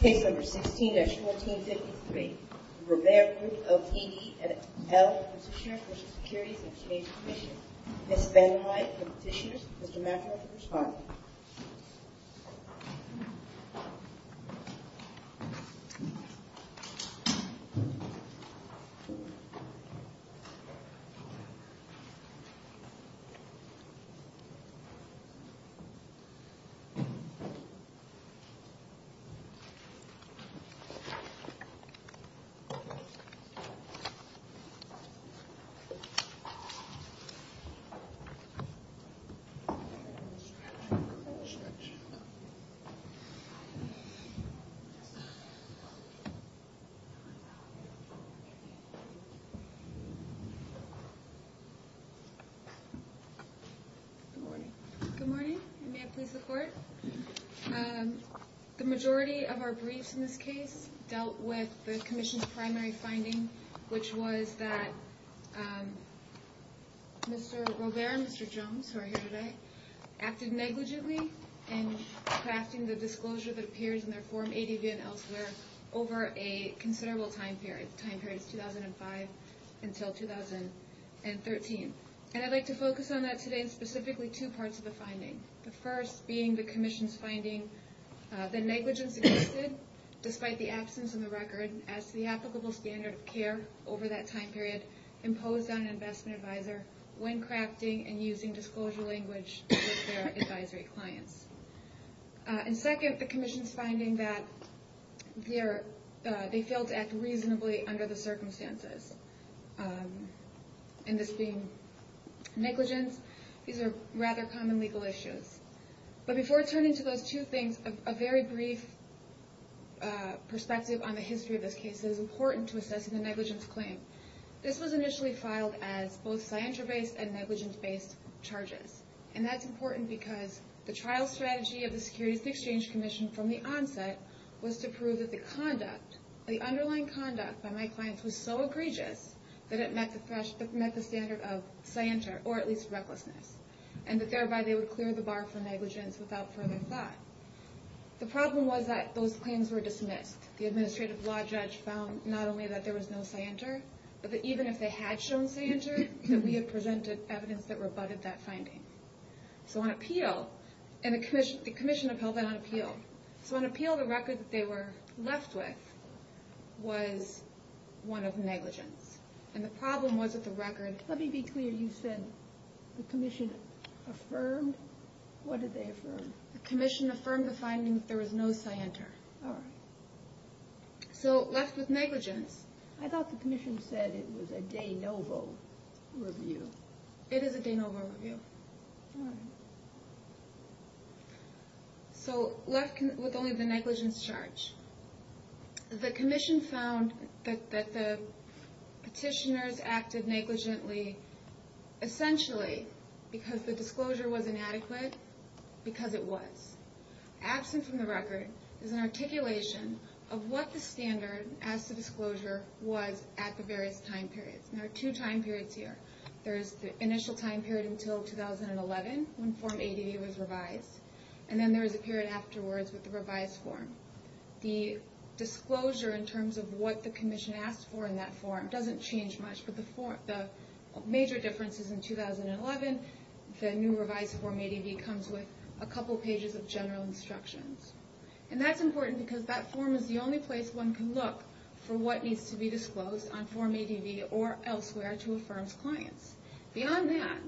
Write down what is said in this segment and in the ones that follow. Case No. 16-1453. The Robare Group, LTD. v. Securities and Exchange Commission. Ms. Van Hyde for Petitioners. Mr. Matthews for Respondents. Good morning. Good morning. May I please report? The majority of our briefs in this case dealt with the Commission's primary finding, which was that Mr. Robare and Mr. Jones, who are here today, acted negligently in crafting the disclosure that appears in their Form 80B and elsewhere over a considerable time period. The time period is 2005 until 2013. And I'd like to focus on that today in specifically two parts of the finding. The first being the Commission's finding that negligence existed despite the absence of a record as to the applicable standard of care over that time period imposed on an investment advisor when crafting and using disclosure language with their advisory clients. And second, the Commission's finding that they failed to act reasonably under the But before turning to those two things, a very brief perspective on the history of this case that is important to assessing the negligence claim. This was initially filed as both scienter-based and negligence-based charges. And that's important because the trial strategy of the Securities and Exchange Commission from the onset was to prove that the underlying conduct by my clients was so egregious that it met the standard of scienter, or at least recklessness. And that thereby they would clear the bar for negligence without further thought. The problem was that those claims were dismissed. The administrative law judge found not only that there was no scienter, but that even if they had shown scienter, that we had presented evidence that rebutted that finding. So on appeal, and the Commission upheld that on appeal. So on appeal, the record that they were left with was one of negligence. And the problem was that the record... Let me be clear. You said the Commission affirmed? What did they affirm? The Commission affirmed the finding that there was no scienter. All right. So, left with negligence. I thought the Commission said it was a de novo review. It is a de novo review. All right. So, left with only the negligence charge. The Commission found that the petitioners acted negligently essentially because the disclosure was inadequate, because it was. Absent from the record is an articulation of what the standard as to disclosure was at the various time periods. And there are two time periods here. There is the initial time period until 2011 when Form ADV was revised. And then there is a period afterwards with the revised form. The disclosure in terms of what the Commission asked for in that form doesn't change much, but the major difference is in 2011, the new revised Form ADV comes with a couple pages of general instructions. And that's important because that form is the only place one can look for what needs to be disclosed on Form ADV or elsewhere to On that,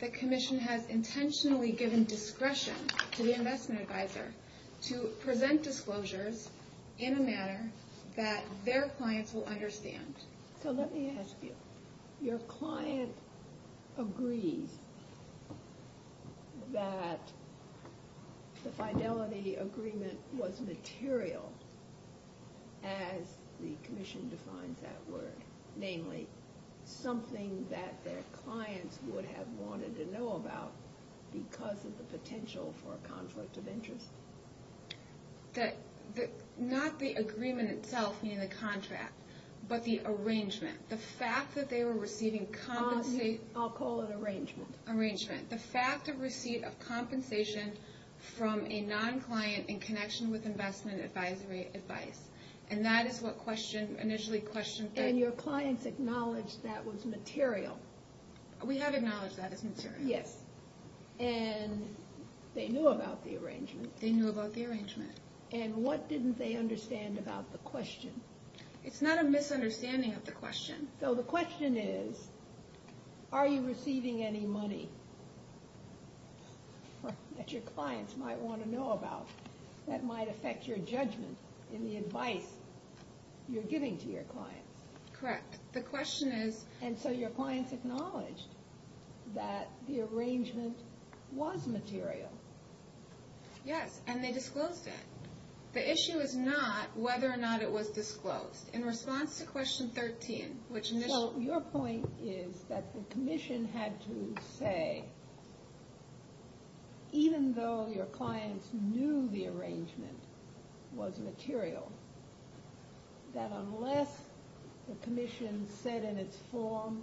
the Commission has intentionally given discretion to the investment advisor to present disclosures in a manner that their clients will understand. So, let me ask you. Your client agrees that the fidelity agreement was material, as the clients would have wanted to know about, because of the potential for a conflict of interest? Not the agreement itself, meaning the contract, but the arrangement. The fact that they were receiving compensation... I'll call it arrangement. Arrangement. The fact of receipt of compensation from a non-client in connection with investment advisory advice. And that is what initially questioned... And your clients acknowledged that was material. We have acknowledged that as material. Yes. And they knew about the arrangement. They knew about the arrangement. And what didn't they understand about the question? It's not a misunderstanding of the question. So, the question is, are you receiving any money that your clients might want to know about that might affect your judgment in the advice you're giving to your clients? Correct. The question is... And so your clients acknowledged that the arrangement was material. Yes. And they disclosed it. The issue is not whether or not it was disclosed. In response to question 13, which initially... knew the arrangement was material, that unless the commission said in its form,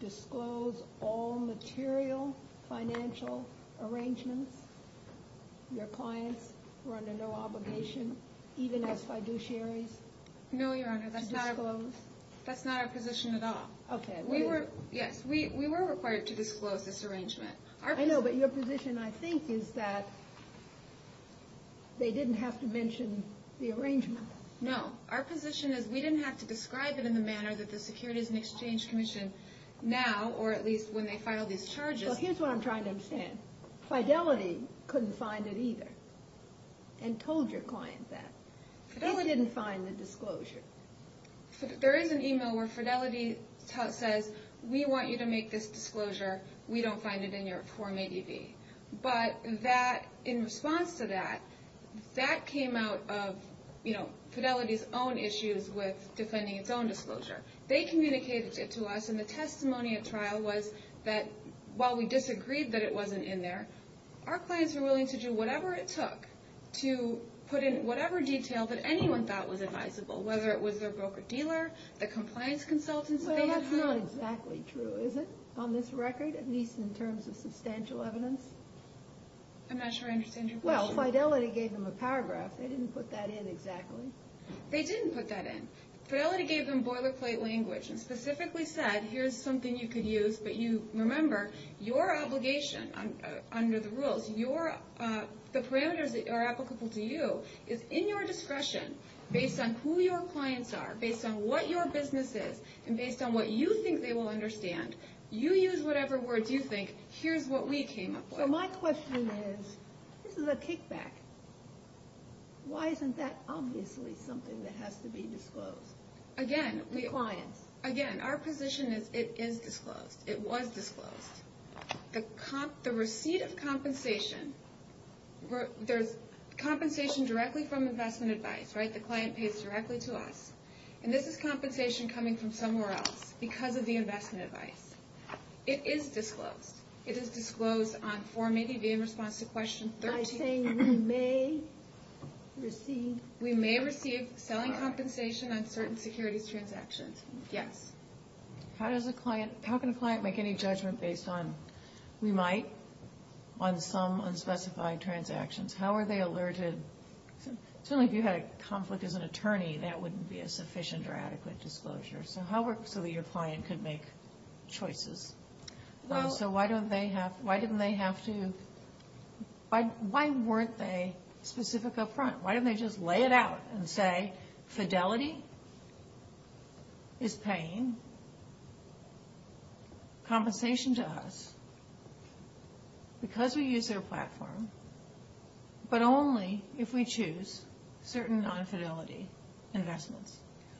disclose all material financial arrangements, your clients were under no obligation, even as fiduciaries, to disclose? No, Your Honor. That's not our position at all. Okay. Yes. We were required to disclose this arrangement. I know, but your position, I think, is that they didn't have to mention the arrangement. No. Our position is we didn't have to describe it in the manner that the Securities and Exchange Commission now, or at least when they filed these charges... Well, here's what I'm trying to understand. Fidelity couldn't find it either and told your client that. They didn't find the disclosure. There is an email where Fidelity says, we want you to make this disclosure. We don't find it in your Form 80B. But in response to that, that came out of Fidelity's own issues with defending its own disclosure. They communicated it to us, and the testimony at trial was that while we disagreed that it wasn't in there, our clients were willing to do whatever it took to put in whatever detail that anyone thought was advisable, whether it was their broker-dealer, the compliance consultants that they had hired. That's not exactly true, is it, on this record, at least in terms of substantial evidence? I'm not sure I understand your question. Well, Fidelity gave them a paragraph. They didn't put that in exactly. They didn't put that in. Fidelity gave them boilerplate language and specifically said, here's something you could use, but remember, your obligation under the rules, the parameters that are applicable to you is in your discretion based on who your clients are, based on what your business is, and based on what you think they will understand. You use whatever words you think. Here's what we came up with. So my question is, this is a kickback. Why isn't that obviously something that has to be disclosed? Again, our position is it is disclosed. It was disclosed. The receipt of compensation, there's compensation directly from Investment Advice, right? The client pays directly to us, and this is compensation coming from somewhere else because of the Investment Advice. It is disclosed. It is disclosed on form 80B in response to question 13. By saying we may receive... We may receive selling compensation on certain securities transactions, yes. How can a client make any judgment based on, we might, on some unspecified transactions? How are they alerted? Certainly if you had a conflict as an attorney, that wouldn't be a sufficient or adequate disclosure. So how works so that your client could make choices? So why don't they have, why didn't they have to, why weren't they specific up front? Why didn't they just lay it out and say, fidelity is paying compensation to us because we use their platform, but only if we choose certain non-fidelity investments?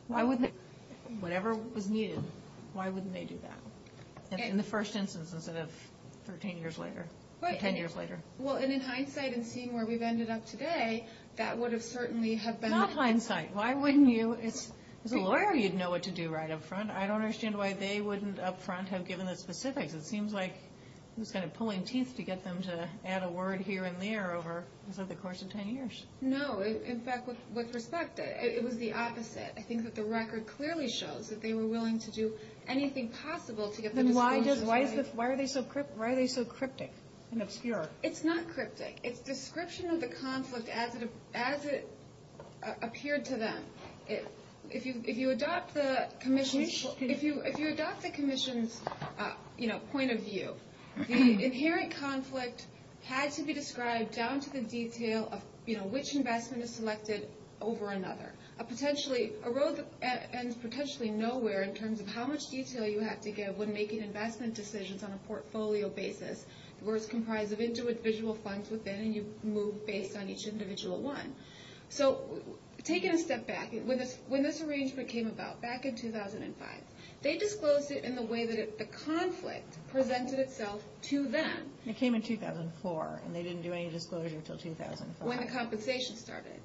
Why wouldn't they, whatever was needed, why wouldn't they do that in the first instance instead of 13 years later or 10 years later? Well, and in hindsight, in seeing where we've ended up today, that would have certainly have been... Not hindsight. Why wouldn't you, as a lawyer, you'd know what to do right up front. I don't understand why they wouldn't up front have given the specifics. It seems like it was kind of pulling teeth to get them to add a word here and there over the course of 10 years. No, in fact, with respect, it was the opposite. I think that the record clearly shows that they were willing to do anything possible to get the disclosure... Then why are they so cryptic and obscure? It's not cryptic. It's description of the conflict as it appeared to them. If you adopt the commission's point of view, the inherent conflict had to be described down to the detail of which investment is selected over another. Potentially, a road ends potentially nowhere in terms of how much detail you have to give when making investment decisions on a portfolio basis, where it's comprised of individual funds within and you move based on each individual one. Taking a step back, when this arrangement came about, back in 2005, they disclosed it in the way that the conflict presented itself to them. It came in 2004 and they didn't do any disclosure until 2005. When the compensation started.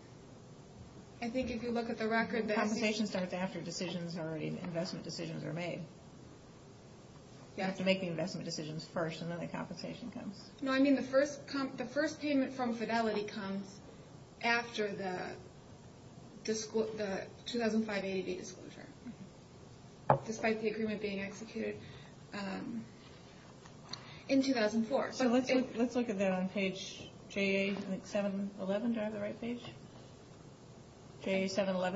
I think if you look at the record... Compensation starts after investment decisions are made. You have to make the investment decisions first and then the compensation comes. The first payment from Fidelity comes after the 2005 80-day disclosure, despite the agreement being executed in 2004. Let's look at that on page 711.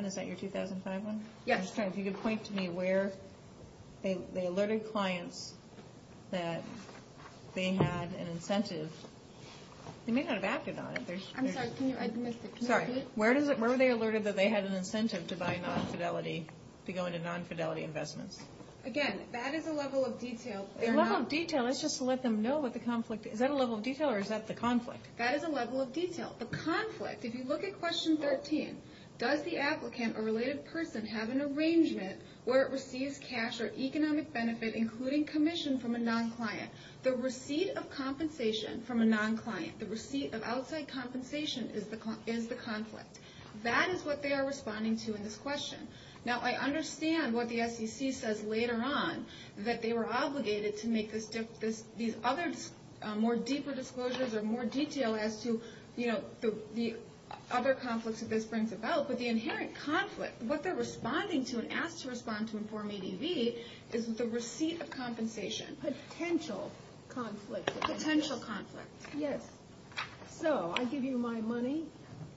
Is that your 2005 one? Yes. Last time, if you could point to me where they alerted clients that they had an incentive. They may not have acted on it. I'm sorry, I missed it. Where were they alerted that they had an incentive to buy non-Fidelity, to go into non-Fidelity investments? Again, that is a level of detail. A level of detail? That's just to let them know what the conflict is. Is that a level of detail or is that the conflict? That is a level of detail. The conflict, if you look at question 13, does the applicant or related person have an arrangement where it receives cash or economic benefit, including commission from a non-client? The receipt of compensation from a non-client, the receipt of outside compensation, is the conflict. That is what they are responding to in this question. Now, I understand what the SEC says later on, that they were obligated to make these other more deeper disclosures or more detail as to the other conflicts that this brings about, but the inherent conflict, what they're responding to and asked to respond to in Form 80B is the receipt of compensation. Potential conflict. Potential conflict. Yes. So, I give you my money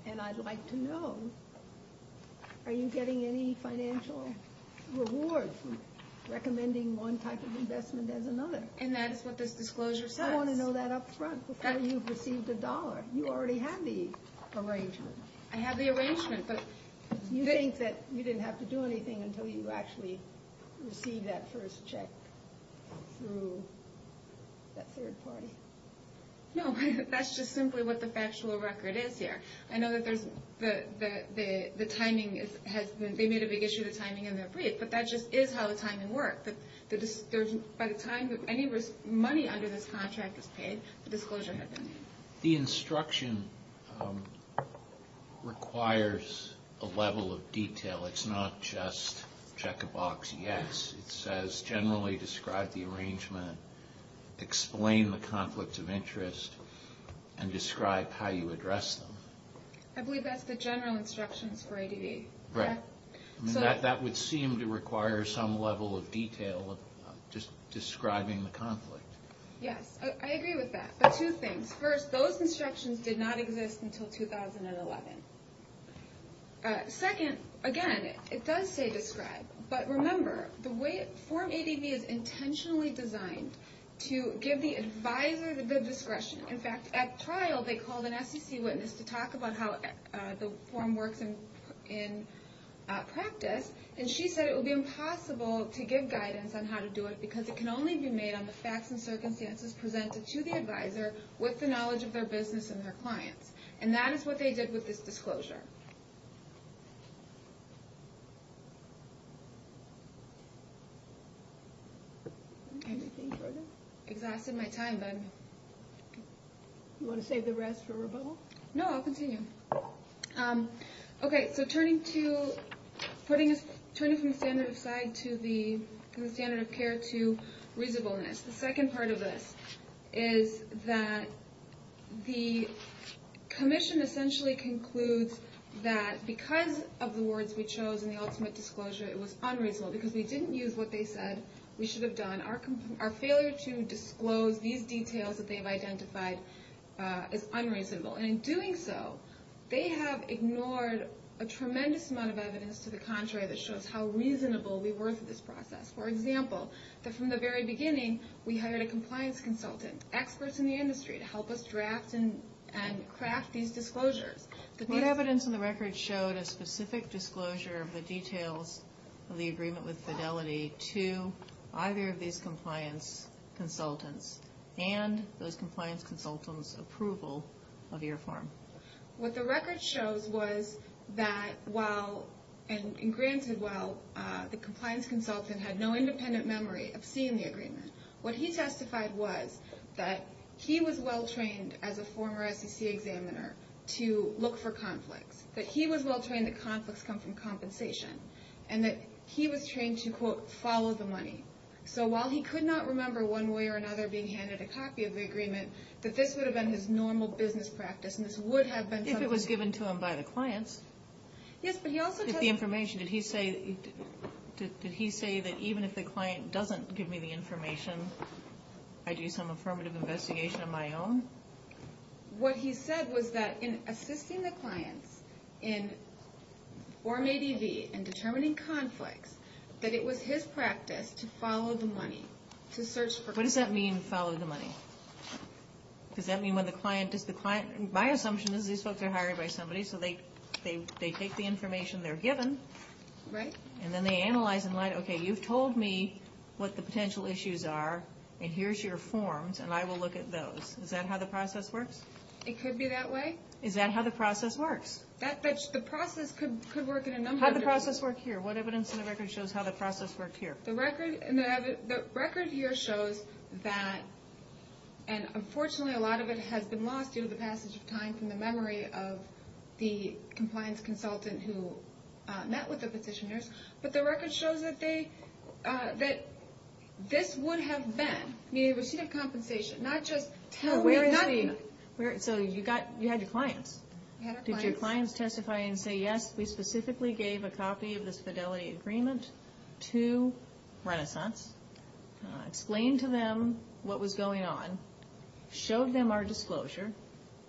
and I'd like to know, are you getting any financial reward from recommending one type of investment as another? And that is what this disclosure says. I want to know that up front before you've received a dollar. You already have the arrangement. I have the arrangement, but... You think that you didn't have to do anything until you actually received that first check through that third party? No, that's just simply what the factual record is here. I know that there's the timing has been, they made a big issue of the timing in their brief, but that just is how the timing worked. By the time any money under this contract is paid, the disclosure had been made. The instruction requires a level of detail. It's not just check a box, yes. It says generally describe the arrangement, explain the conflict of interest, and describe how you address them. I believe that's the general instructions for 80B. Right. That would seem to require some level of detail of just describing the conflict. Yes, I agree with that, but two things. First, those instructions did not exist until 2011. Second, again, it does say describe, but remember the way form 80B is intentionally designed to give the advisor the discretion. In fact, at trial they called an SEC witness to talk about how the form works in practice, and she said it would be impossible to give guidance on how to do it because it can only be made on the facts and circumstances presented to the advisor with the knowledge of their business and their clients. And that is what they did with this disclosure. Anything further? Exhausted my time then. You want to save the rest for rebuttal? No, I'll continue. Okay, so turning from the standard of care to reasonableness. The second part of this is that the commission essentially concludes that because of the words we chose in the ultimate disclosure, it was unreasonable because we didn't use what they said we should have done. Our failure to disclose these details that they've identified is unreasonable. And in doing so, they have ignored a tremendous amount of evidence to the contrary that shows how reasonable we were to this process. For example, that from the very beginning we hired a compliance consultant, experts in the industry, to help us draft and craft these disclosures. But the evidence in the record showed a specific disclosure of the details of the agreement with Fidelity to either of these compliance consultants and those compliance consultants' approval of your form. What the record shows was that while, and granted while, the compliance consultant had no independent memory of seeing the agreement, what he testified was that he was well-trained as a former SEC examiner to look for conflicts, that he was well-trained that conflicts come from compensation, and that he was trained to, quote, follow the money. So while he could not remember one way or another being handed a copy of the agreement, that this would have been his normal business practice, and this would have been... If it was given to him by the clients. Yes, but he also testified... Did he say that even if the client doesn't give me the information, I do some affirmative investigation on my own? What he said was that in assisting the clients in Form ADV and determining conflicts, that it was his practice to follow the money, to search for... What does that mean, follow the money? Does that mean when the client... My assumption is these folks are hired by somebody, so they take the information they're given. Right. And then they analyze and write, okay, you've told me what the potential issues are, and here's your forms, and I will look at those. Is that how the process works? It could be that way. Is that how the process works? The process could work in a number of different... How'd the process work here? What evidence in the record shows how the process worked here? The record here shows that, and unfortunately a lot of it has been lost due to the passage of time from the memory of the compliance consultant who met with the petitioners, but the record shows that this would have been a receipt of compensation, not just tell me nothing. So you had your clients? We had our clients. Did your clients testify and say, Yes, we specifically gave a copy of this fidelity agreement to Renaissance, explained to them what was going on, showed them our disclosure,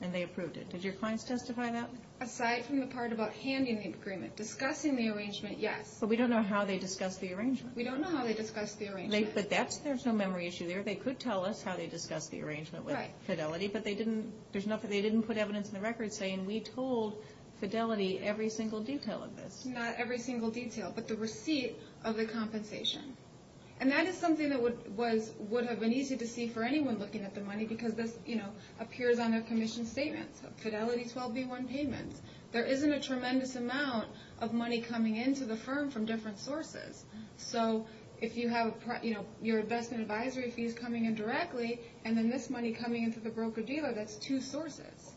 and they approved it. Did your clients testify to that? Aside from the part about handing the agreement, discussing the arrangement, yes. But we don't know how they discussed the arrangement. We don't know how they discussed the arrangement. But there's no memory issue there. They could tell us how they discussed the arrangement with Fidelity, but they didn't put evidence in the record saying, We told Fidelity every single detail of this. Not every single detail, but the receipt of the compensation. And that is something that would have been easy to see for anyone looking at the money because this appears on their commission statements, Fidelity 12B1 payments. There isn't a tremendous amount of money coming into the firm from different sources. So if you have your investment advisory fees coming in directly, and then this money coming into the broker-dealer, that's two sources.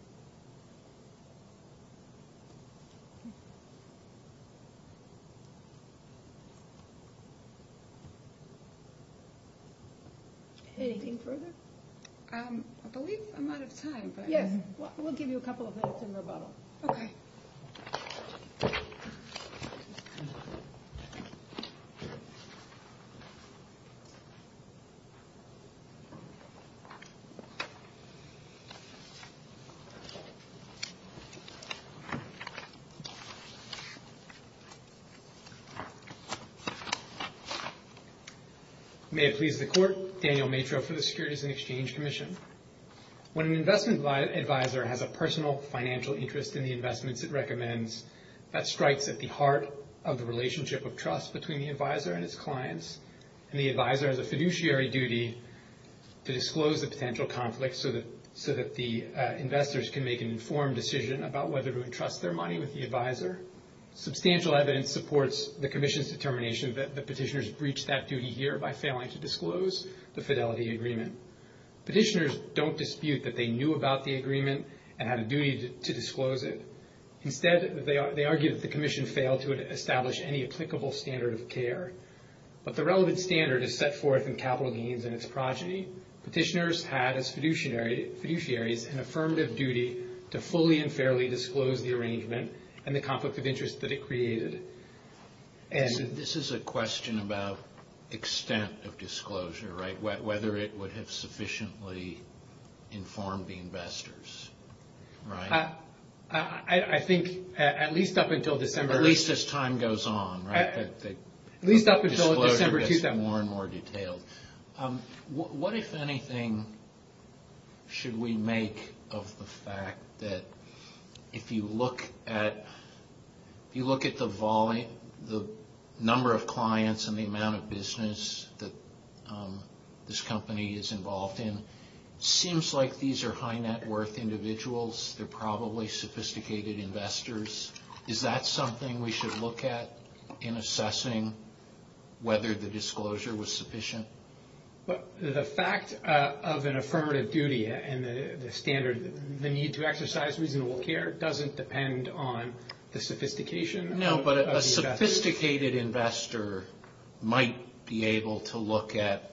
Anything further? I believe I'm out of time. Yes, we'll give you a couple of minutes in rebuttal. Okay. Thank you. May it please the Court, Daniel Matreau for the Securities and Exchange Commission. When an investment advisor has a personal financial interest in the investments it recommends, that strikes at the heart of the relationship of trust between the advisor and its clients, and the advisor has a fiduciary duty to disclose the potential conflict so that the investors can make an informed decision about whether to entrust their money with the advisor. Substantial evidence supports the commission's determination that the petitioners breached that duty here by failing to disclose the Fidelity agreement. Petitioners don't dispute that they knew about the agreement and had a duty to disclose it. Instead, they argue that the commission failed to establish any applicable standard of care. But the relevant standard is set forth in capital gains and its progeny. Petitioners had as fiduciaries an affirmative duty to fully and fairly disclose the arrangement and the conflict of interest that it created. This is a question about extent of disclosure, right? Whether it would have sufficiently informed the investors, right? I think at least up until December. At least as time goes on, right? At least up until December 2000. More and more detailed. What, if anything, should we make of the fact that if you look at the number of clients and the amount of business that this company is involved in, it seems like these are high net worth individuals. They're probably sophisticated investors. Is that something we should look at in assessing whether the disclosure was sufficient? The fact of an affirmative duty and the need to exercise reasonable care doesn't depend on the sophistication of the investor. No, but a sophisticated investor might be able to look at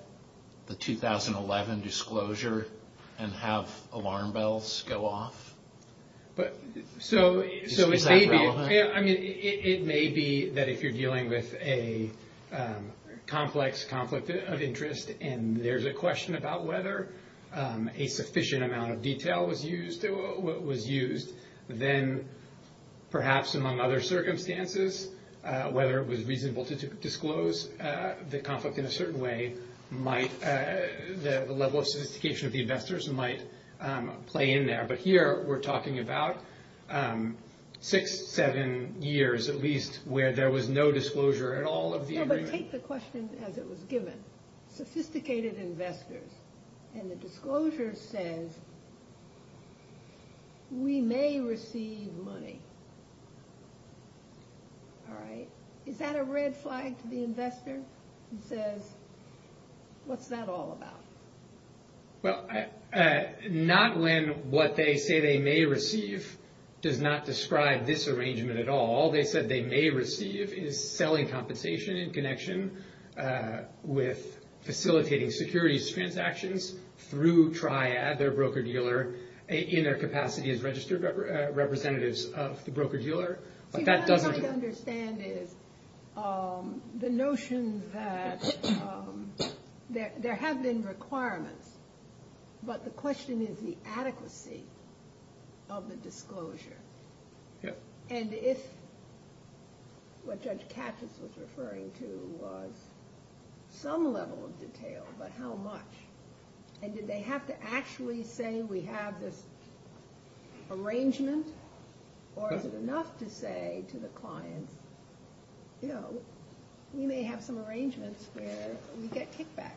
the 2011 disclosure and have alarm bells go off. So it may be that if you're dealing with a complex conflict of interest and there's a question about whether a sufficient amount of detail was used, then perhaps among other circumstances, whether it was reasonable to disclose the conflict in a certain way, the level of sophistication of the investors might play in there. But here we're talking about six, seven years at least where there was no disclosure at all of the agreement. No, but take the question as it was given. Sophisticated investors. And the disclosure says, we may receive money. All right. Is that a red flag to the investor? It says, what's that all about? Well, not when what they say they may receive does not describe this arrangement at all. All they said they may receive is selling compensation in connection with facilitating securities transactions through Triad, their broker-dealer, in their capacity as registered representatives of the broker-dealer. See, what I'm trying to understand is the notion that there have been requirements, but the question is the adequacy of the disclosure. And if what Judge Katz was referring to was some level of detail, but how much? And did they have to actually say, we have this arrangement? Or is it enough to say to the client, we may have some arrangements where we get kickbacks?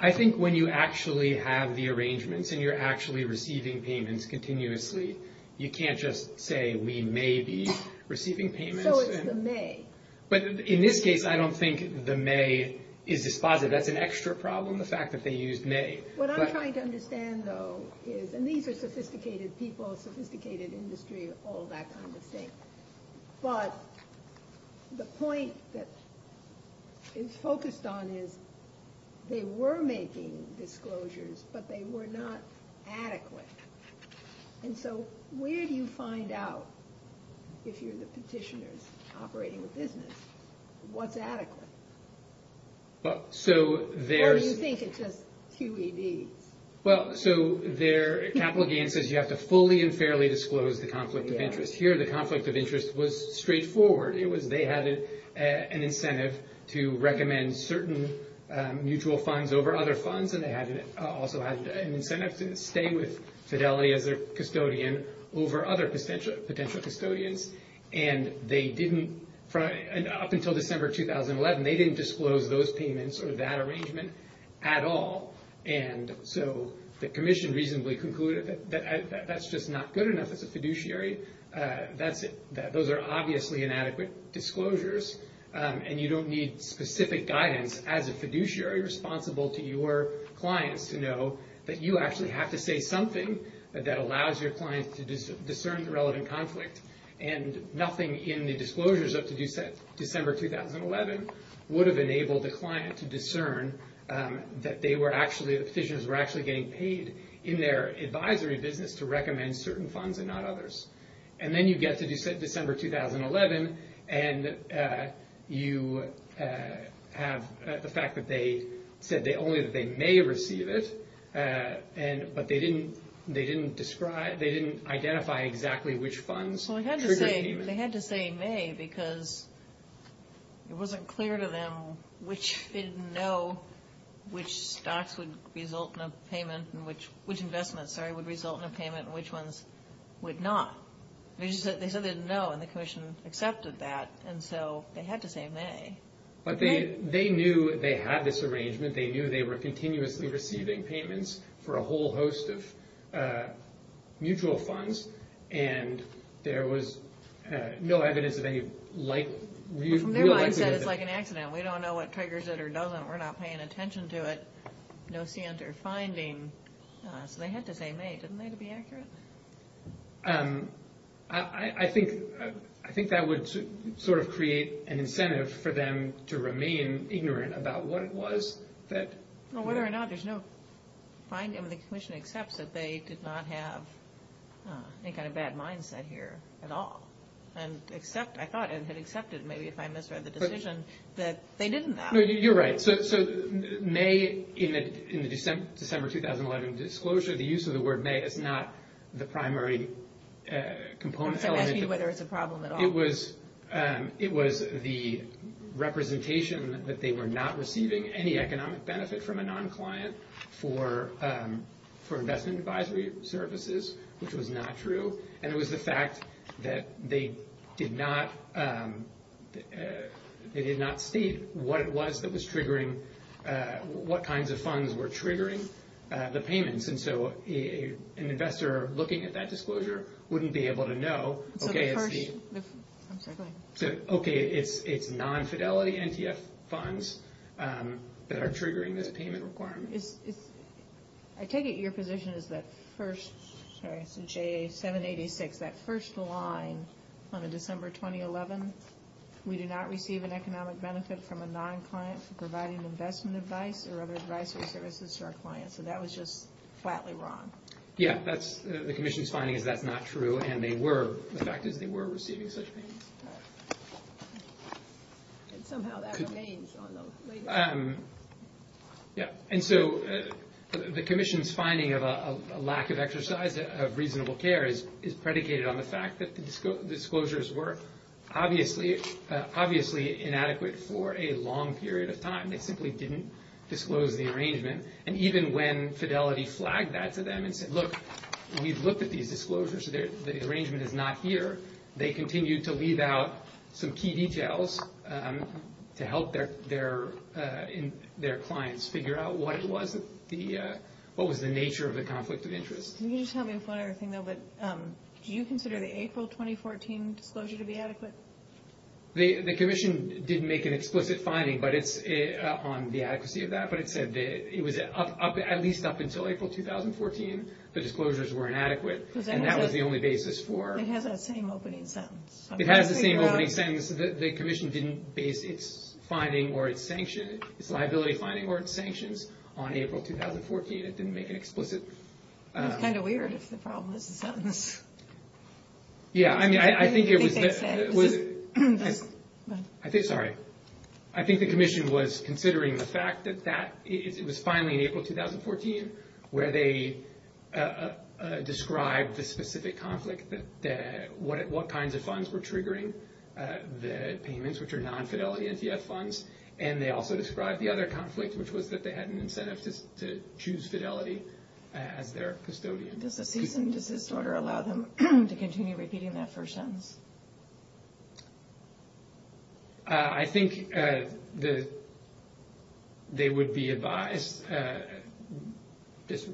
I think when you actually have the arrangements and you're actually receiving payments continuously, you can't just say, we may be receiving payments. So it's the may. But in this case, I don't think the may is dispositive. That's an extra problem, the fact that they used may. What I'm trying to understand, though, is, and these are sophisticated people, sophisticated industry, all that kind of thing. But the point that it's focused on is they were making disclosures, but they were not adequate. And so where do you find out, if you're the petitioners operating the business, what's adequate? Or do you think it's just QEDs? Well, so their capital gain says you have to fully and fairly disclose the conflict of interest. Here, the conflict of interest was straightforward. It was they had an incentive to recommend certain mutual funds over other funds, and they also had an incentive to stay with Fidelity as their custodian over other potential custodians. And they didn't, up until December 2011, they didn't disclose those payments or that arrangement at all. And so the commission reasonably concluded that that's just not good enough as a fiduciary. Those are obviously inadequate disclosures, and you don't need specific guidance as a fiduciary responsible to your clients to know that you actually have to say something that allows your client to discern the relevant conflict. And nothing in the disclosures up to December 2011 would have enabled the client to discern that the petitioners were actually getting paid in their advisory business to recommend certain funds and not others. And then you get to December 2011, and you have the fact that they said only that they may receive it, but they didn't identify exactly which funds triggered the payment. They had to say may because it wasn't clear to them which didn't know which stocks would result in a payment and which investments would result in a payment and which ones would not. They said they didn't know, and the commission accepted that, and so they had to say may. But they knew they had this arrangement. They knew they were continuously receiving payments for a whole host of mutual funds, and there was no evidence of any likelihood. From their mindset, it's like an accident. We don't know what triggers it or doesn't. We're not paying attention to it. No scientific finding. So they had to say may. Didn't they, to be accurate? I think that would sort of create an incentive for them to remain ignorant about what it was. Well, whether or not there's no finding, the commission accepts that they did not have any kind of bad mindset here at all. And I thought it had accepted, maybe if I misread the decision, that they didn't know. No, you're right. So may in the December 2011 disclosure, the use of the word may is not the primary component element. I'm asking you whether it's a problem at all. It was the representation that they were not receiving any economic benefit from a non-client for investment advisory services, which was not true, and it was the fact that they did not state what it was that was triggering, what kinds of funds were triggering the payments. And so an investor looking at that disclosure wouldn't be able to know, okay, I'm sorry, go ahead. Okay, it's non-fidelity NTF funds that are triggering this payment requirement. I take it your position is that first, sorry, so JA 786, that first line on a December 2011, we do not receive an economic benefit from a non-client for providing investment advice or other advisory services to our clients. So that was just flatly wrong. Yeah, the commission's finding is that's not true, and the fact is they were receiving such payments. And somehow that remains on the latest. Yeah, and so the commission's finding of a lack of exercise of reasonable care is predicated on the fact that the disclosures were obviously inadequate for a long period of time. They simply didn't disclose the arrangement. And even when Fidelity flagged that to them and said, look, we've looked at these disclosures. The arrangement is not here. They continued to leave out some key details to help their clients figure out what was the nature of the conflict of interest. Can you just help me with one other thing, though? Do you consider the April 2014 disclosure to be adequate? The commission didn't make an explicit finding on the adequacy of that, but it said that it was at least up until April 2014, the disclosures were inadequate. And that was the only basis for. It has that same opening sentence. It has the same opening sentence. The commission didn't base its finding or its sanction, its liability finding or its sanctions on April 2014. It didn't make an explicit. It's kind of weird if the problem is the sentence. Yeah, I mean, I think it was. I think, sorry. I think the commission was considering the fact that it was finally in April 2014 where they described the specific conflict, what kinds of funds were triggering the payments, which are non-Fidelity NTF funds. And they also described the other conflict, which was that they had an incentive to choose Fidelity as their custodian. Does the cease and desist order allow them to continue repeating that first sentence? I think they would be advised,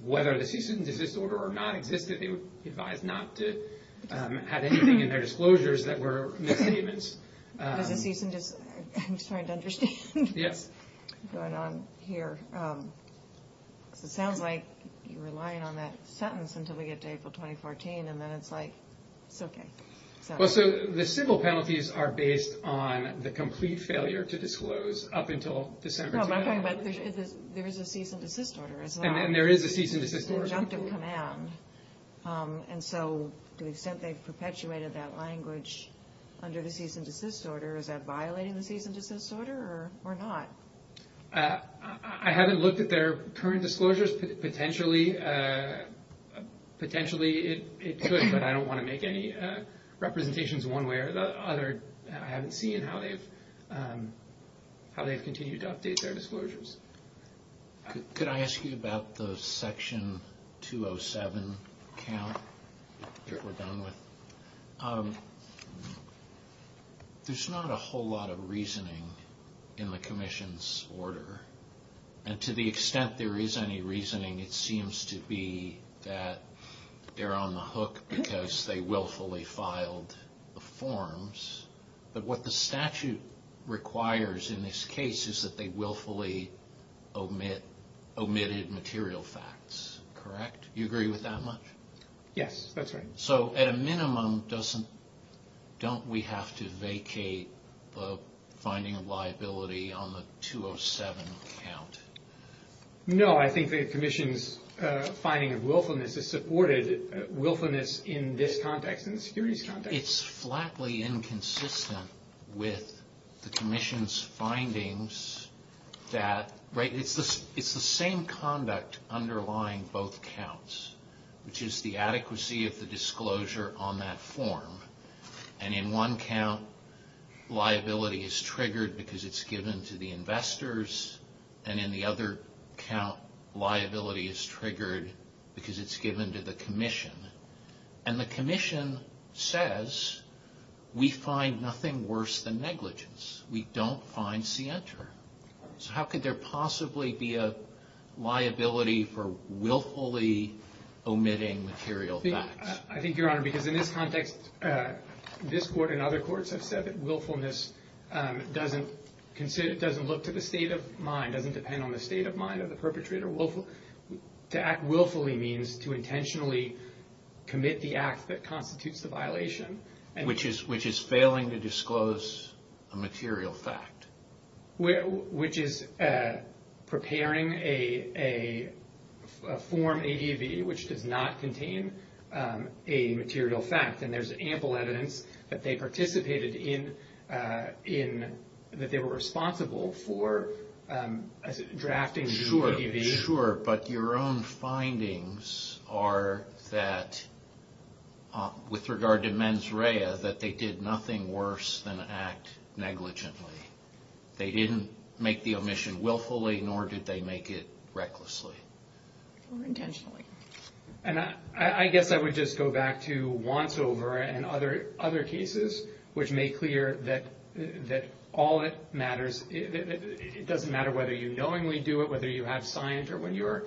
whether the cease and desist order or not existed, they would be advised not to have anything in their disclosures that were misstatements. Does the cease and desist, I'm just trying to understand what's going on here. Because it sounds like you're relying on that sentence until we get to April 2014. And then it's like, it's okay. Well, so the civil penalties are based on the complete failure to disclose up until December 2014. No, but I'm talking about there is a cease and desist order. And there is a cease and desist order. It's an injunctive command. And so to the extent they've perpetuated that language under the cease and desist order, is that violating the cease and desist order or not? I haven't looked at their current disclosures. Potentially it could, but I don't want to make any representations one way or the other. I haven't seen how they've continued to update their disclosures. Could I ask you about the section 207 count that we're done with? There's not a whole lot of reasoning in the commission's order. And to the extent there is any reasoning, it seems to be that they're on the hook because they willfully filed the forms. But what the statute requires in this case is that they willfully omitted material facts. Correct? You agree with that much? Yes, that's right. So at a minimum, don't we have to vacate the finding of liability on the 207 count? No, I think the commission's finding of willfulness is supported. Willfulness in this context, in the securities context. It's flatly inconsistent with the commission's findings. It's the same conduct underlying both counts, which is the adequacy of the disclosure on that form. And in one count, liability is triggered because it's given to the investors. And in the other count, liability is triggered because it's given to the commission. And the commission says, we find nothing worse than negligence. We don't find scienter. So how could there possibly be a liability for willfully omitting material facts? I think, Your Honor, because in this context, this court and other courts have said that willfulness doesn't look to the state of mind, doesn't depend on the state of mind of the perpetrator. To act willfully means to intentionally commit the act that constitutes the violation. Which is failing to disclose a material fact. Which is preparing a form ADV which does not contain a material fact. And there's ample evidence that they participated in, that they were responsible for drafting the ADV. Sure, but your own findings are that, with regard to mens rea, that they did nothing worse than act negligently. They didn't make the omission willfully, nor did they make it recklessly. Or intentionally. And I guess I would just go back to wants over and other cases, which make clear that all that matters, it doesn't matter whether you knowingly do it, whether you have scienter when you're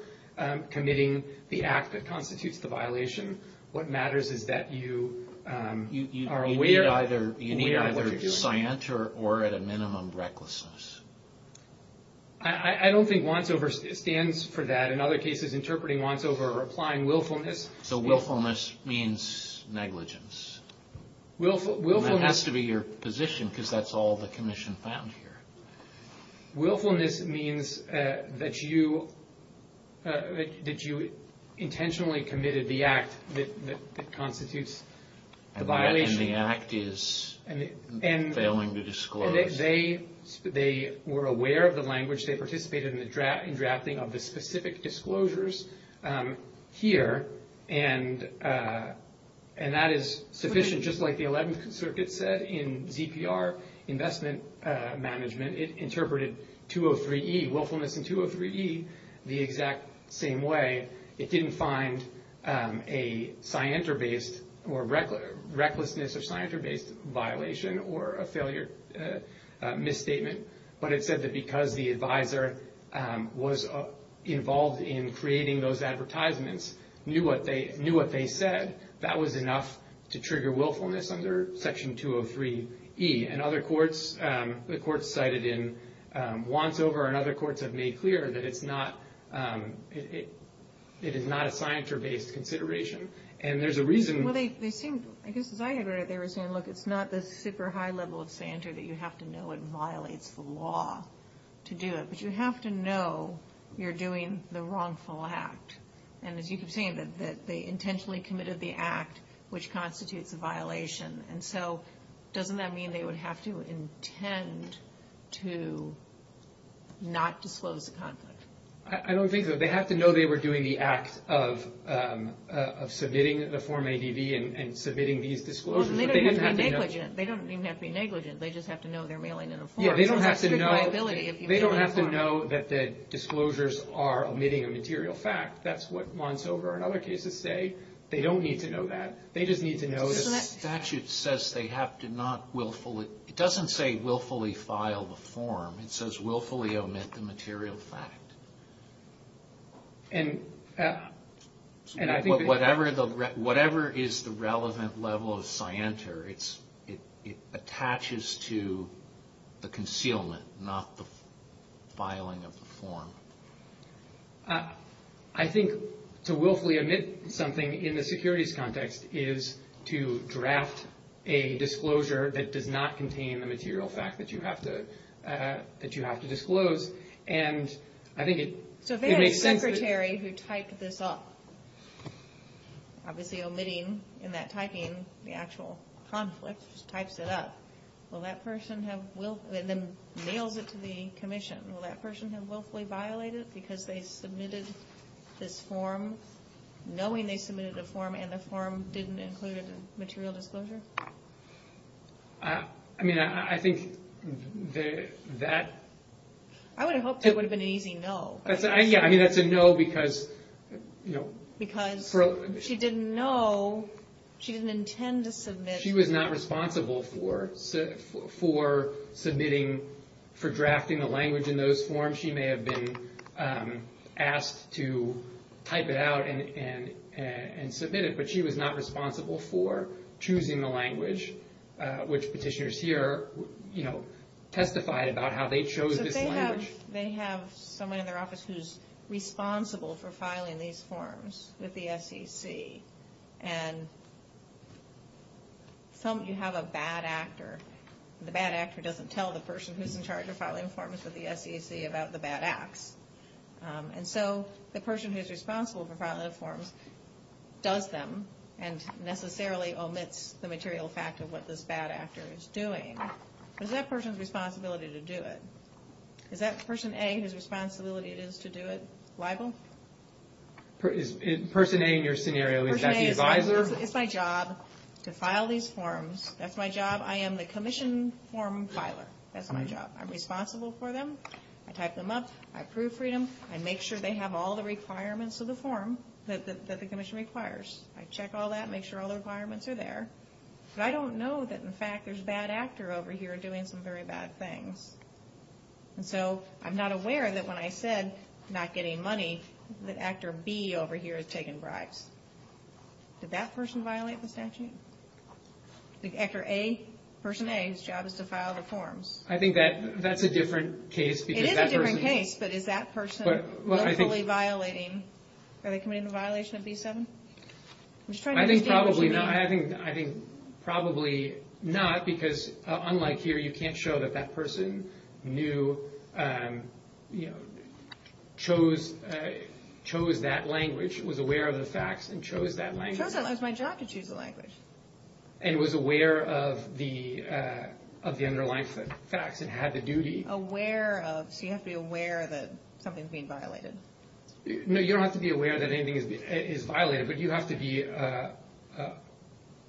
committing the act that constitutes the violation. What matters is that you are aware of what you're doing. You need either scienter or, at a minimum, recklessness. I don't think wants over stands for that. In other cases, interpreting wants over or applying willfulness. So willfulness means negligence. And that has to be your position, because that's all the commission found here. Willfulness means that you intentionally committed the act that constitutes the violation. And the act is failing to disclose. They were aware of the language. They participated in the drafting of the specific disclosures here. And that is sufficient, just like the 11th Circuit said in ZPR investment management. It interpreted 203E, willfulness in 203E, the exact same way. It didn't find a scienter-based or recklessness or scienter-based violation or a failure misstatement. But it said that because the advisor was involved in creating those advertisements, knew what they said, that was enough to trigger willfulness under Section 203E. And other courts, the courts cited in wants over and other courts have made clear that it's not a scienter-based consideration. And there's a reason. Well, they seemed, I guess as I had read it, they were saying, look, it's not the super high level of scienter that you have to know it violates the law to do it. But you have to know you're doing the wrongful act. And as you keep saying, that they intentionally committed the act which constitutes a violation. And so doesn't that mean they would have to intend to not disclose the conflict? I don't think so. They have to know they were doing the act of submitting the form ADV and submitting these disclosures. They don't even have to be negligent. They just have to know they're mailing in a form. They don't have to know that the disclosures are omitting a material fact. That's what wants over and other cases say. They don't need to know that. They just need to know the statute says they have to not willfully, it doesn't say willfully file the form. It says willfully omit the material fact. Whatever is the relevant level of scienter, it attaches to the concealment, not the filing of the form. I think to willfully omit something in the securities context is to draft a disclosure that does not contain the material fact that you have to disclose. And I think it makes sense. So if there is a secretary who typed this up, obviously omitting in that typing the actual conflict, just types it up, and then mails it to the commission, will that person have willfully violated because they submitted this form, and the form didn't include a material disclosure? I mean, I think that... I would have hoped it would have been an easy no. Yeah, I mean, that's a no because... Because she didn't know, she didn't intend to submit... She was not responsible for submitting, for drafting the language in those forms. She may have been asked to type it out and submit it, but she was not responsible for choosing the language, which petitioners here testified about how they chose this language. So they have someone in their office who's responsible for filing these forms with the SEC, and you have a bad actor. The bad actor doesn't tell the person who's in charge of filing forms with the SEC about the bad acts. And so the person who's responsible for filing the forms does them and necessarily omits the material fact of what this bad actor is doing. But is that person's responsibility to do it? Is that person A whose responsibility it is to do it liable? Person A in your scenario, is that the advisor? It's my job to file these forms. That's my job. I am the commission form filer. That's my job. I'm responsible for them. I type them up. I approve freedom. I make sure they have all the requirements of the form that the commission requires. I check all that, make sure all the requirements are there. But I don't know that, in fact, there's a bad actor over here doing some very bad things. And so I'm not aware that when I said not getting money, that actor B over here has taken bribes. Did that person violate the statute? The actor A, person A, whose job is to file the forms. I think that's a different case. It is a different case, but is that person locally violating? Are they committing the violation of B7? I'm just trying to understand what you mean. I think probably not. Because unlike here, you can't show that that person knew, chose that language, was aware of the facts, and chose that language. It was my job to choose the language. And was aware of the underlying facts and had the duty. Aware of, so you have to be aware that something's being violated. No, you don't have to be aware that anything is violated. But you have to be,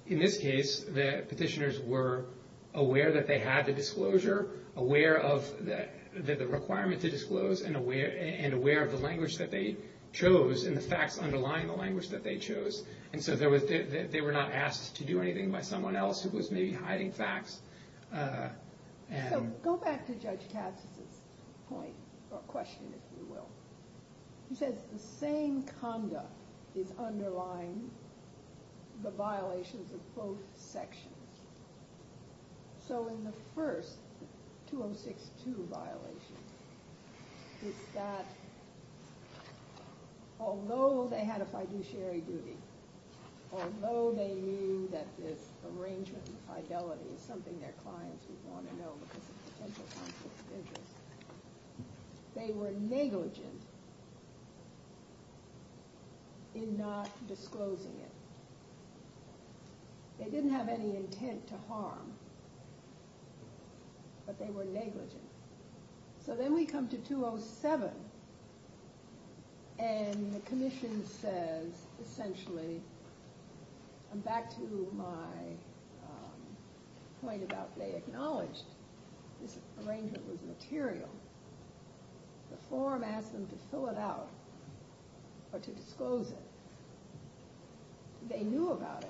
in this case, the petitioners were aware that they had the disclosure, aware of the requirement to disclose, and aware of the language that they chose and the facts underlying the language that they chose. And so they were not asked to do anything by someone else who was maybe hiding facts. So go back to Judge Katz's point, or question, if you will. He says the same conduct is underlying the violations of both sections. So in the first 2062 violation, it's that although they had a fiduciary duty, although they knew that this arrangement of fidelity is something their clients would want to know because of potential conflict of interest, they were negligent in not disclosing it. They didn't have any intent to harm, but they were negligent. So then we come to 207, and the commission says, essentially, and back to my point about they acknowledged this arrangement was material, the forum asked them to fill it out or to disclose it. They knew about it.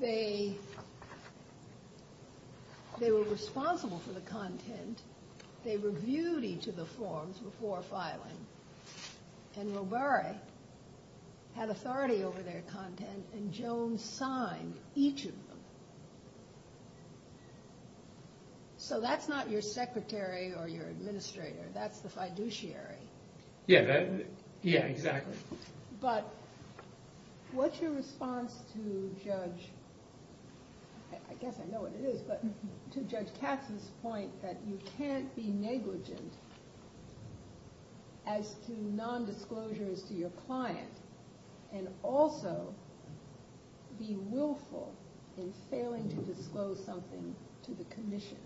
They were responsible for the content. They reviewed each of the forms before filing. And Robare had authority over their content, and Jones signed each of them. So that's not your secretary or your administrator. That's the fiduciary. Yeah, exactly. But what's your response to Judge, I guess I know what it is, but to Judge Katz's point that you can't be negligent as to nondisclosure as to your client and also be willful in failing to disclose something to the commission?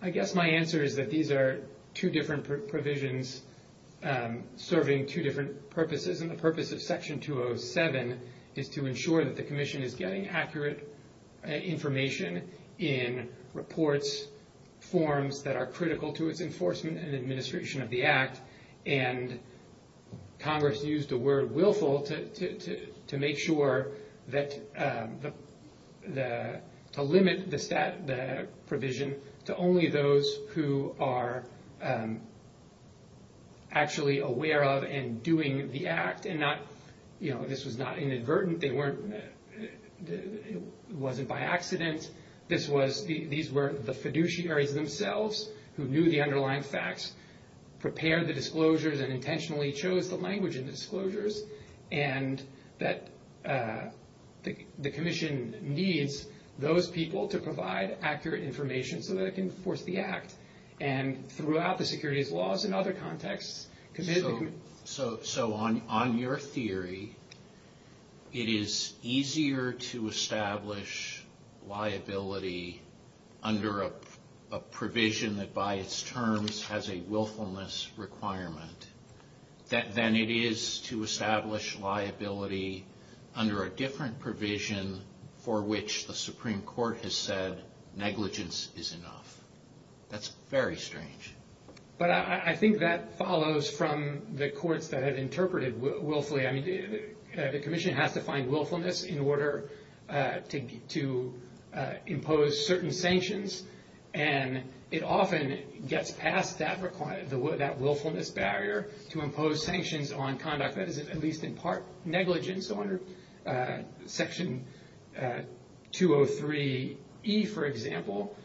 I guess my answer is that these are two different provisions serving two different purposes, and the purpose of Section 207 is to ensure that the commission is getting accurate information in reports, forms that are critical to its enforcement and administration of the Act, and Congress used the word willful to limit the provision to only those who are actually aware of and doing the Act, and this was not inadvertent. It wasn't by accident. These were the fiduciaries themselves who knew the underlying facts, prepared the disclosures, and intentionally chose the language in the disclosures, and that the commission needs those people to provide accurate information so that it can enforce the Act, and throughout the securities laws and other contexts. So on your theory, it is easier to establish liability under a provision that by its terms has a willfulness requirement than it is to establish liability under a different provision for which the Supreme Court has said negligence is enough. That's very strange. But I think that follows from the courts that have interpreted willfully. I mean, the commission has to find willfulness in order to impose certain sanctions, and it often gets past that willfulness barrier to impose sanctions on conduct that is at least in part negligence. Section 203E, for example,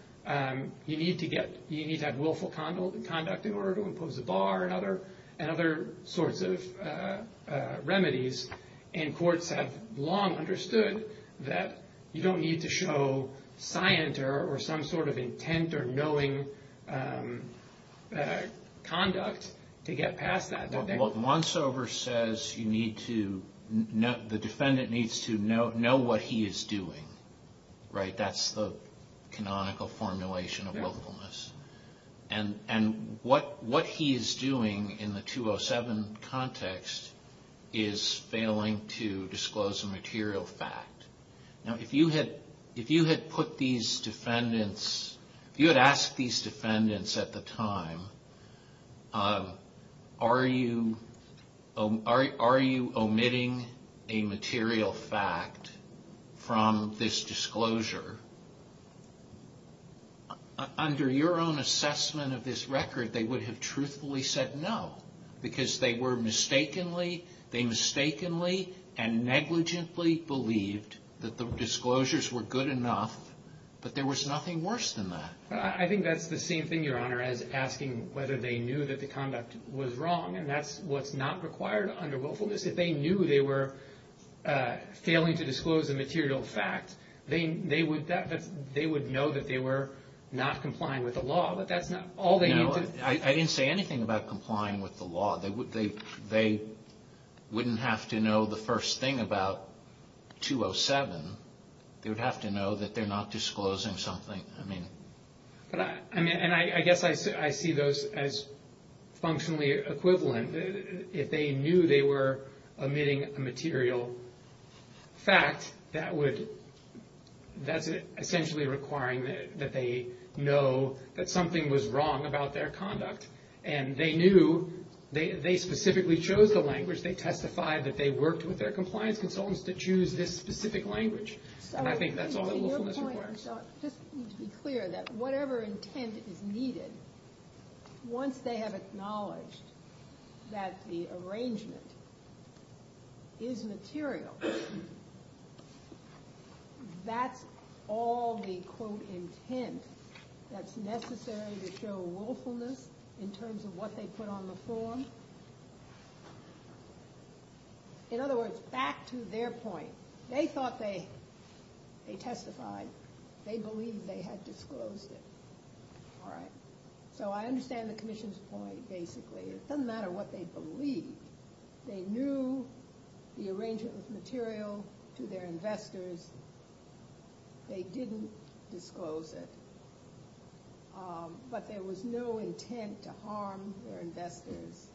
you need to have willful conduct in order to impose a bar and other sorts of remedies, and courts have long understood that you don't need to show scient or some sort of intent or knowing conduct to get past that. Once over says the defendant needs to know what he is doing, right? That's the canonical formulation of willfulness. And what he is doing in the 207 context is failing to disclose a material fact. Now, if you had put these defendants, if you had asked these defendants at the time, are you omitting a material fact from this disclosure, under your own assessment of this record, they would have truthfully said no because they were mistakenly and negligently believed that the disclosures were good enough, but there was nothing worse than that. I think that's the same thing, Your Honor, as asking whether they knew that the conduct was wrong, and that's what's not required under willfulness. If they knew they were failing to disclose a material fact, they would know that they were not complying with the law, but that's not all they need to know. No, I didn't say anything about complying with the law. They wouldn't have to know the first thing about 207. They would have to know that they're not disclosing something. And I guess I see those as functionally equivalent. If they knew they were omitting a material fact, that's essentially requiring that they know that something was wrong about their conduct, and they knew they specifically chose the language. They testified that they worked with their compliance consultants to choose this specific language, and I think that's all that willfulness requires. I just need to be clear that whatever intent is needed, once they have acknowledged that the arrangement is material, that's all the, quote, intent that's necessary to show willfulness in terms of what they put on the form. In other words, back to their point. They thought they testified. They believed they had disclosed it. All right. So I understand the commission's point, basically. It doesn't matter what they believed. They knew the arrangement was material to their investors. They didn't disclose it. But there was no intent to harm their investors.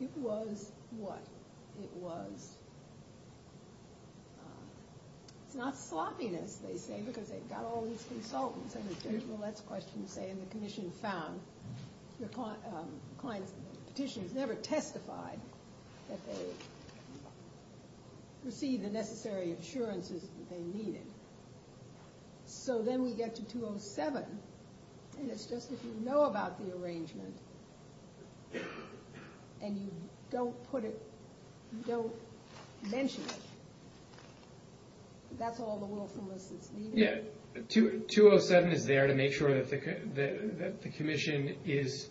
It was what? It was. It's not sloppiness, they say, because they've got all these consultants. I mean, there's no less question to say, and the commission found, the client's petitioners never testified that they received the necessary assurances that they needed. So then we get to 207, and it's just if you know about the arrangement and you don't put it, you don't mention it, that's all the willfulness is needed. Yeah. 207 is there to make sure that the commission is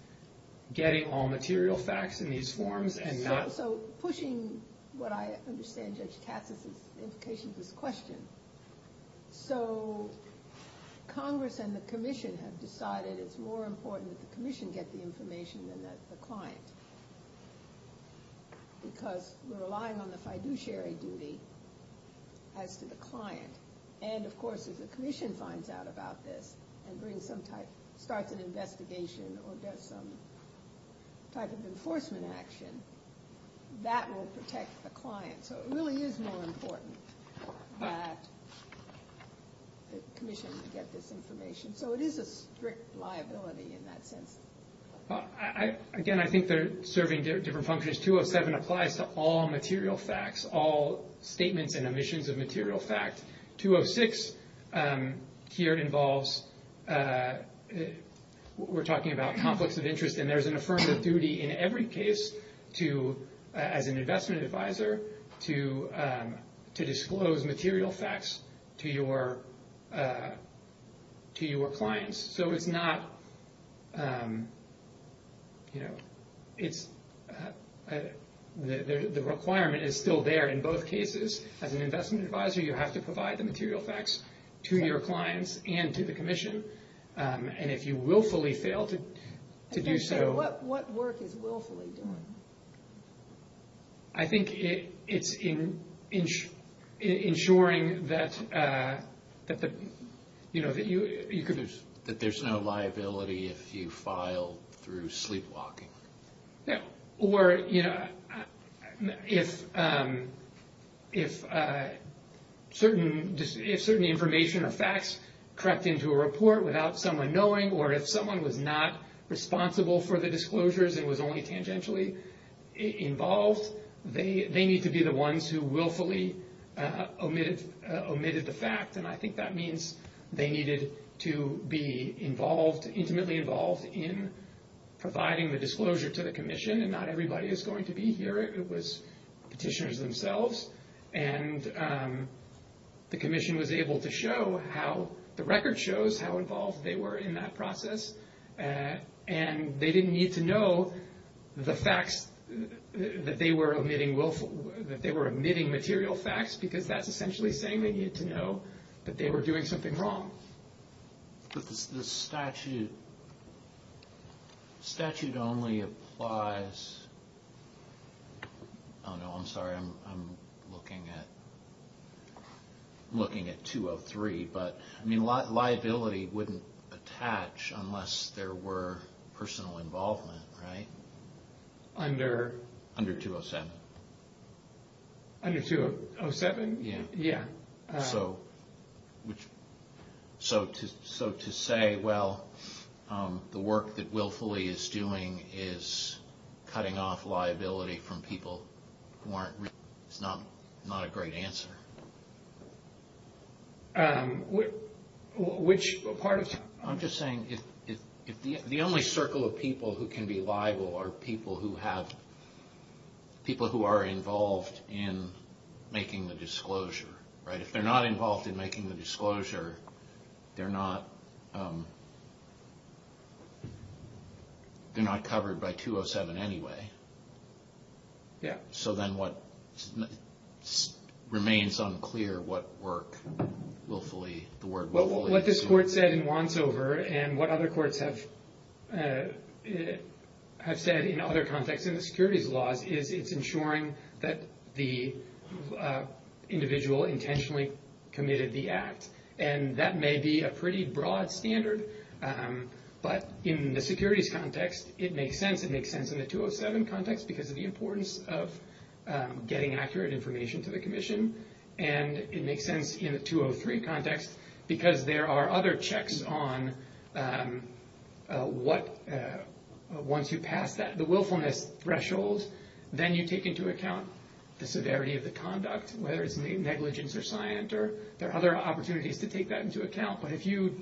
getting all material facts in these forms and not. Also, pushing what I understand, Judge Katz, is the implication of this question. So Congress and the commission have decided it's more important that the commission get the information than the client, because we're relying on the fiduciary duty as to the client. And, of course, if the commission finds out about this and starts an investigation or does some type of enforcement action, that will protect the client. So it really is more important that the commission get this information. So it is a strict liability in that sense. Again, I think they're serving different functions. 207 applies to all material facts, all statements and omissions of material fact. 206 here involves, we're talking about conflicts of interest, and there's an affirmative duty in every case to, as an investment advisor, to disclose material facts to your clients. So it's not, you know, it's, the requirement is still there in both cases. As an investment advisor, you have to provide the material facts to your clients and to the commission. And if you willfully fail to do so. What work is willfully doing? I think it's ensuring that, you know, that you could. That there's no liability if you file through sleepwalking. Or, you know, if certain information or facts crept into a report without someone knowing, or if someone was not responsible for the disclosures and was only tangentially involved, they need to be the ones who willfully omitted the fact. And I think that means they needed to be involved, intimately involved in providing the disclosure to the commission. And not everybody is going to be here. It was petitioners themselves. And the commission was able to show how the record shows how involved they were in that process. And they didn't need to know the facts that they were omitting willfully, that they were omitting material facts because that's essentially saying they need to know that they were doing something wrong. But the statute only applies. Oh, no, I'm sorry. I'm looking at 203. But, I mean, liability wouldn't attach unless there were personal involvement, right? Under? Under 207. Under 207? Yeah. So to say, well, the work that willfully is doing is cutting off liability from people who aren't, it's not a great answer. Which part of? I'm just saying if the only circle of people who can be liable are people who have, people who are involved in making the disclosure, right? If they're not involved in making the disclosure, they're not covered by 207 anyway. Yeah. So then what remains unclear what work willfully, the word willfully is doing. What this court said in Wantsover and what other courts have said in other contexts in the securities laws is it's ensuring that the individual intentionally committed the act. And that may be a pretty broad standard. But in the securities context, it makes sense. It makes sense in the 207 context because of the importance of getting accurate information to the commission. And it makes sense in the 203 context because there are other checks on what, once you pass that, the willfulness threshold, then you take into account the severity of the conduct, whether it's negligence or scienter. There are other opportunities to take that into account. But if you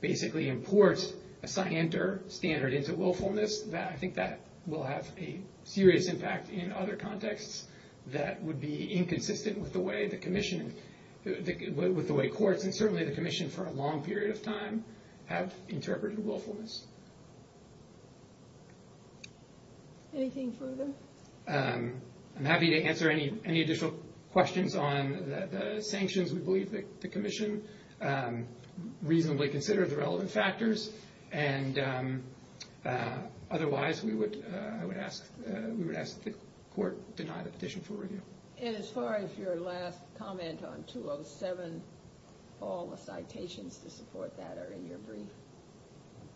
basically import a scienter standard into willfulness, I think that will have a serious impact in other contexts that would be inconsistent with the way the commission, with the way courts and certainly the commission for a long period of time have interpreted willfulness. Anything further? I'm happy to answer any additional questions on the sanctions. We believe that the commission reasonably considered the relevant factors. And otherwise, we would ask the court to deny the petition for review. And as far as your last comment on 207, all the citations to support that are in your brief.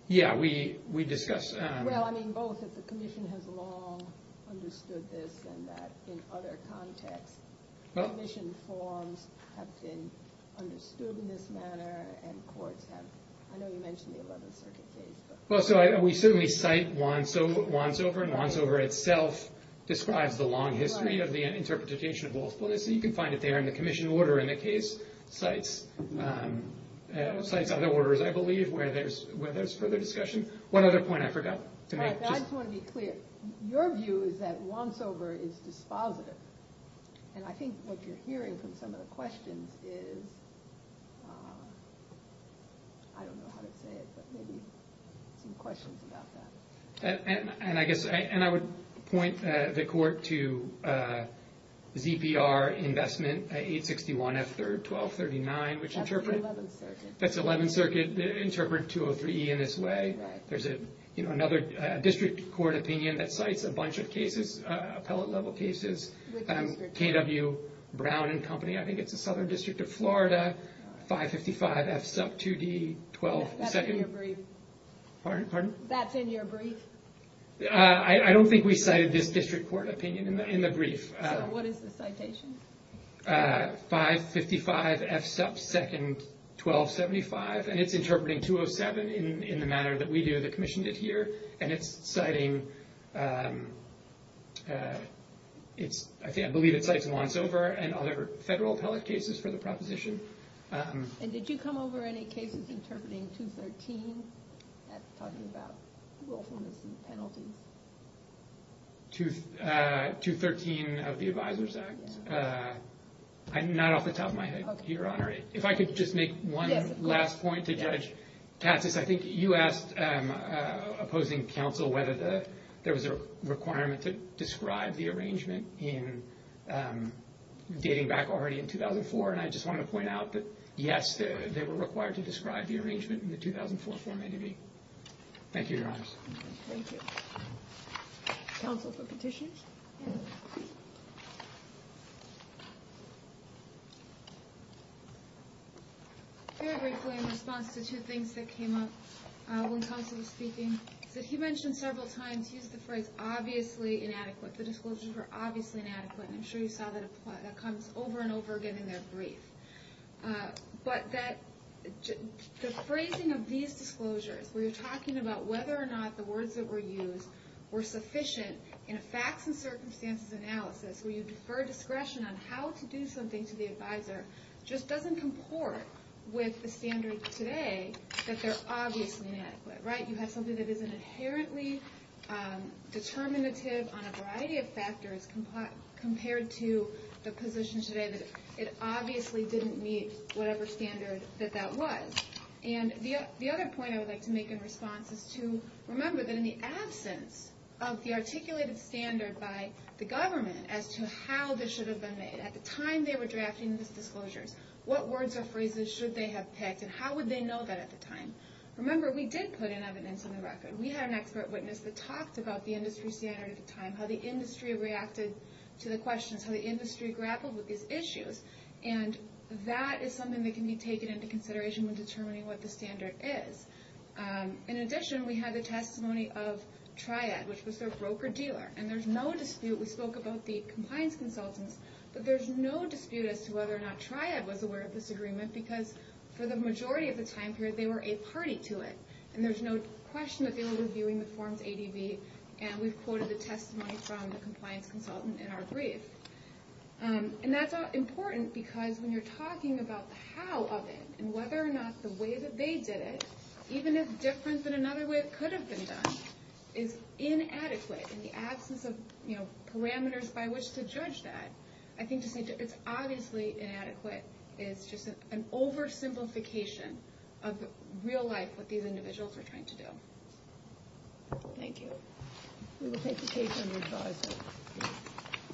Yeah, we discuss. Well, I mean, both of the commission has long understood this and that in other contexts. Commission forms have been understood in this manner. And courts have. I know you mentioned the 11th Circuit case. Well, so we certainly cite Wansover. And Wansover itself describes the long history of the interpretation of willfulness. You can find it there in the commission order in the case. Cites other orders, I believe, where there's further discussion. One other point I forgot to make. I just want to be clear. Your view is that Wansover is dispositive. And I think what you're hearing from some of the questions is, I don't know how to say it, but maybe some questions about that. And I guess and I would point the court to ZPR investment at 861 F. That's 11th Circuit. That's 11th Circuit. Interpret 203 E in this way. There's another district court opinion that cites a bunch of cases, appellate level cases. KW Brown and Company. I think it's the Southern District of Florida. 555 F sub 2D 12. That's in your brief. Pardon? That's in your brief. I don't think we cited this district court opinion in the brief. So what is the citation? 555 F sub 2D 1275. And it's interpreting 207 in the manner that we do, that commissioned it here. And it's citing, I believe it cites Wansover and other federal appellate cases for the proposition. And did you come over any cases interpreting 213? That's talking about willfulness and penalties. 213 of the Advisors Act. Not off the top of my head, Your Honor. If I could just make one last point to Judge Tatsis. I think you asked opposing counsel whether there was a requirement to describe the arrangement in dating back already in 2004. And I just want to point out that, yes, they were required to describe the arrangement in the 2004 form. Thank you, Your Honor. Thank you. Counsel for petitions. Very briefly, in response to two things that came up when counsel was speaking. He mentioned several times, he used the phrase, obviously inadequate. The disclosures were obviously inadequate. And I'm sure you saw that comes over and over again in their brief. But the phrasing of these disclosures, where you're talking about whether or not the words that were used were sufficient. In a facts and circumstances analysis, where you defer discretion on how to do something to the advisor. Just doesn't comport with the standard today that they're obviously inadequate. Right? You have something that isn't inherently determinative on a variety of factors. Compared to the position today that it obviously didn't meet whatever standard that that was. And the other point I would like to make in response is to remember that in the absence of the articulated standard by the government. As to how this should have been made. At the time they were drafting these disclosures. What words or phrases should they have picked? And how would they know that at the time? Remember, we did put in evidence in the record. We had an expert witness that talked about the industry standard at the time. How the industry reacted to the questions. How the industry grappled with these issues. And that is something that can be taken into consideration when determining what the standard is. In addition, we had the testimony of Triad, which was their broker dealer. And there's no dispute. We spoke about the compliance consultants. But there's no dispute as to whether or not Triad was aware of this agreement. Because for the majority of the time period, they were a party to it. And there's no question that they were reviewing the forms ADB. And we've quoted the testimony from the compliance consultant in our brief. And that's important. Because when you're talking about the how of it. And whether or not the way that they did it. Even if different than another way it could have been done. Is inadequate. In the absence of parameters by which to judge that. I think it's obviously inadequate. It's just an oversimplification of real life. What these individuals were trying to do. Thank you. We will take the case under advisory.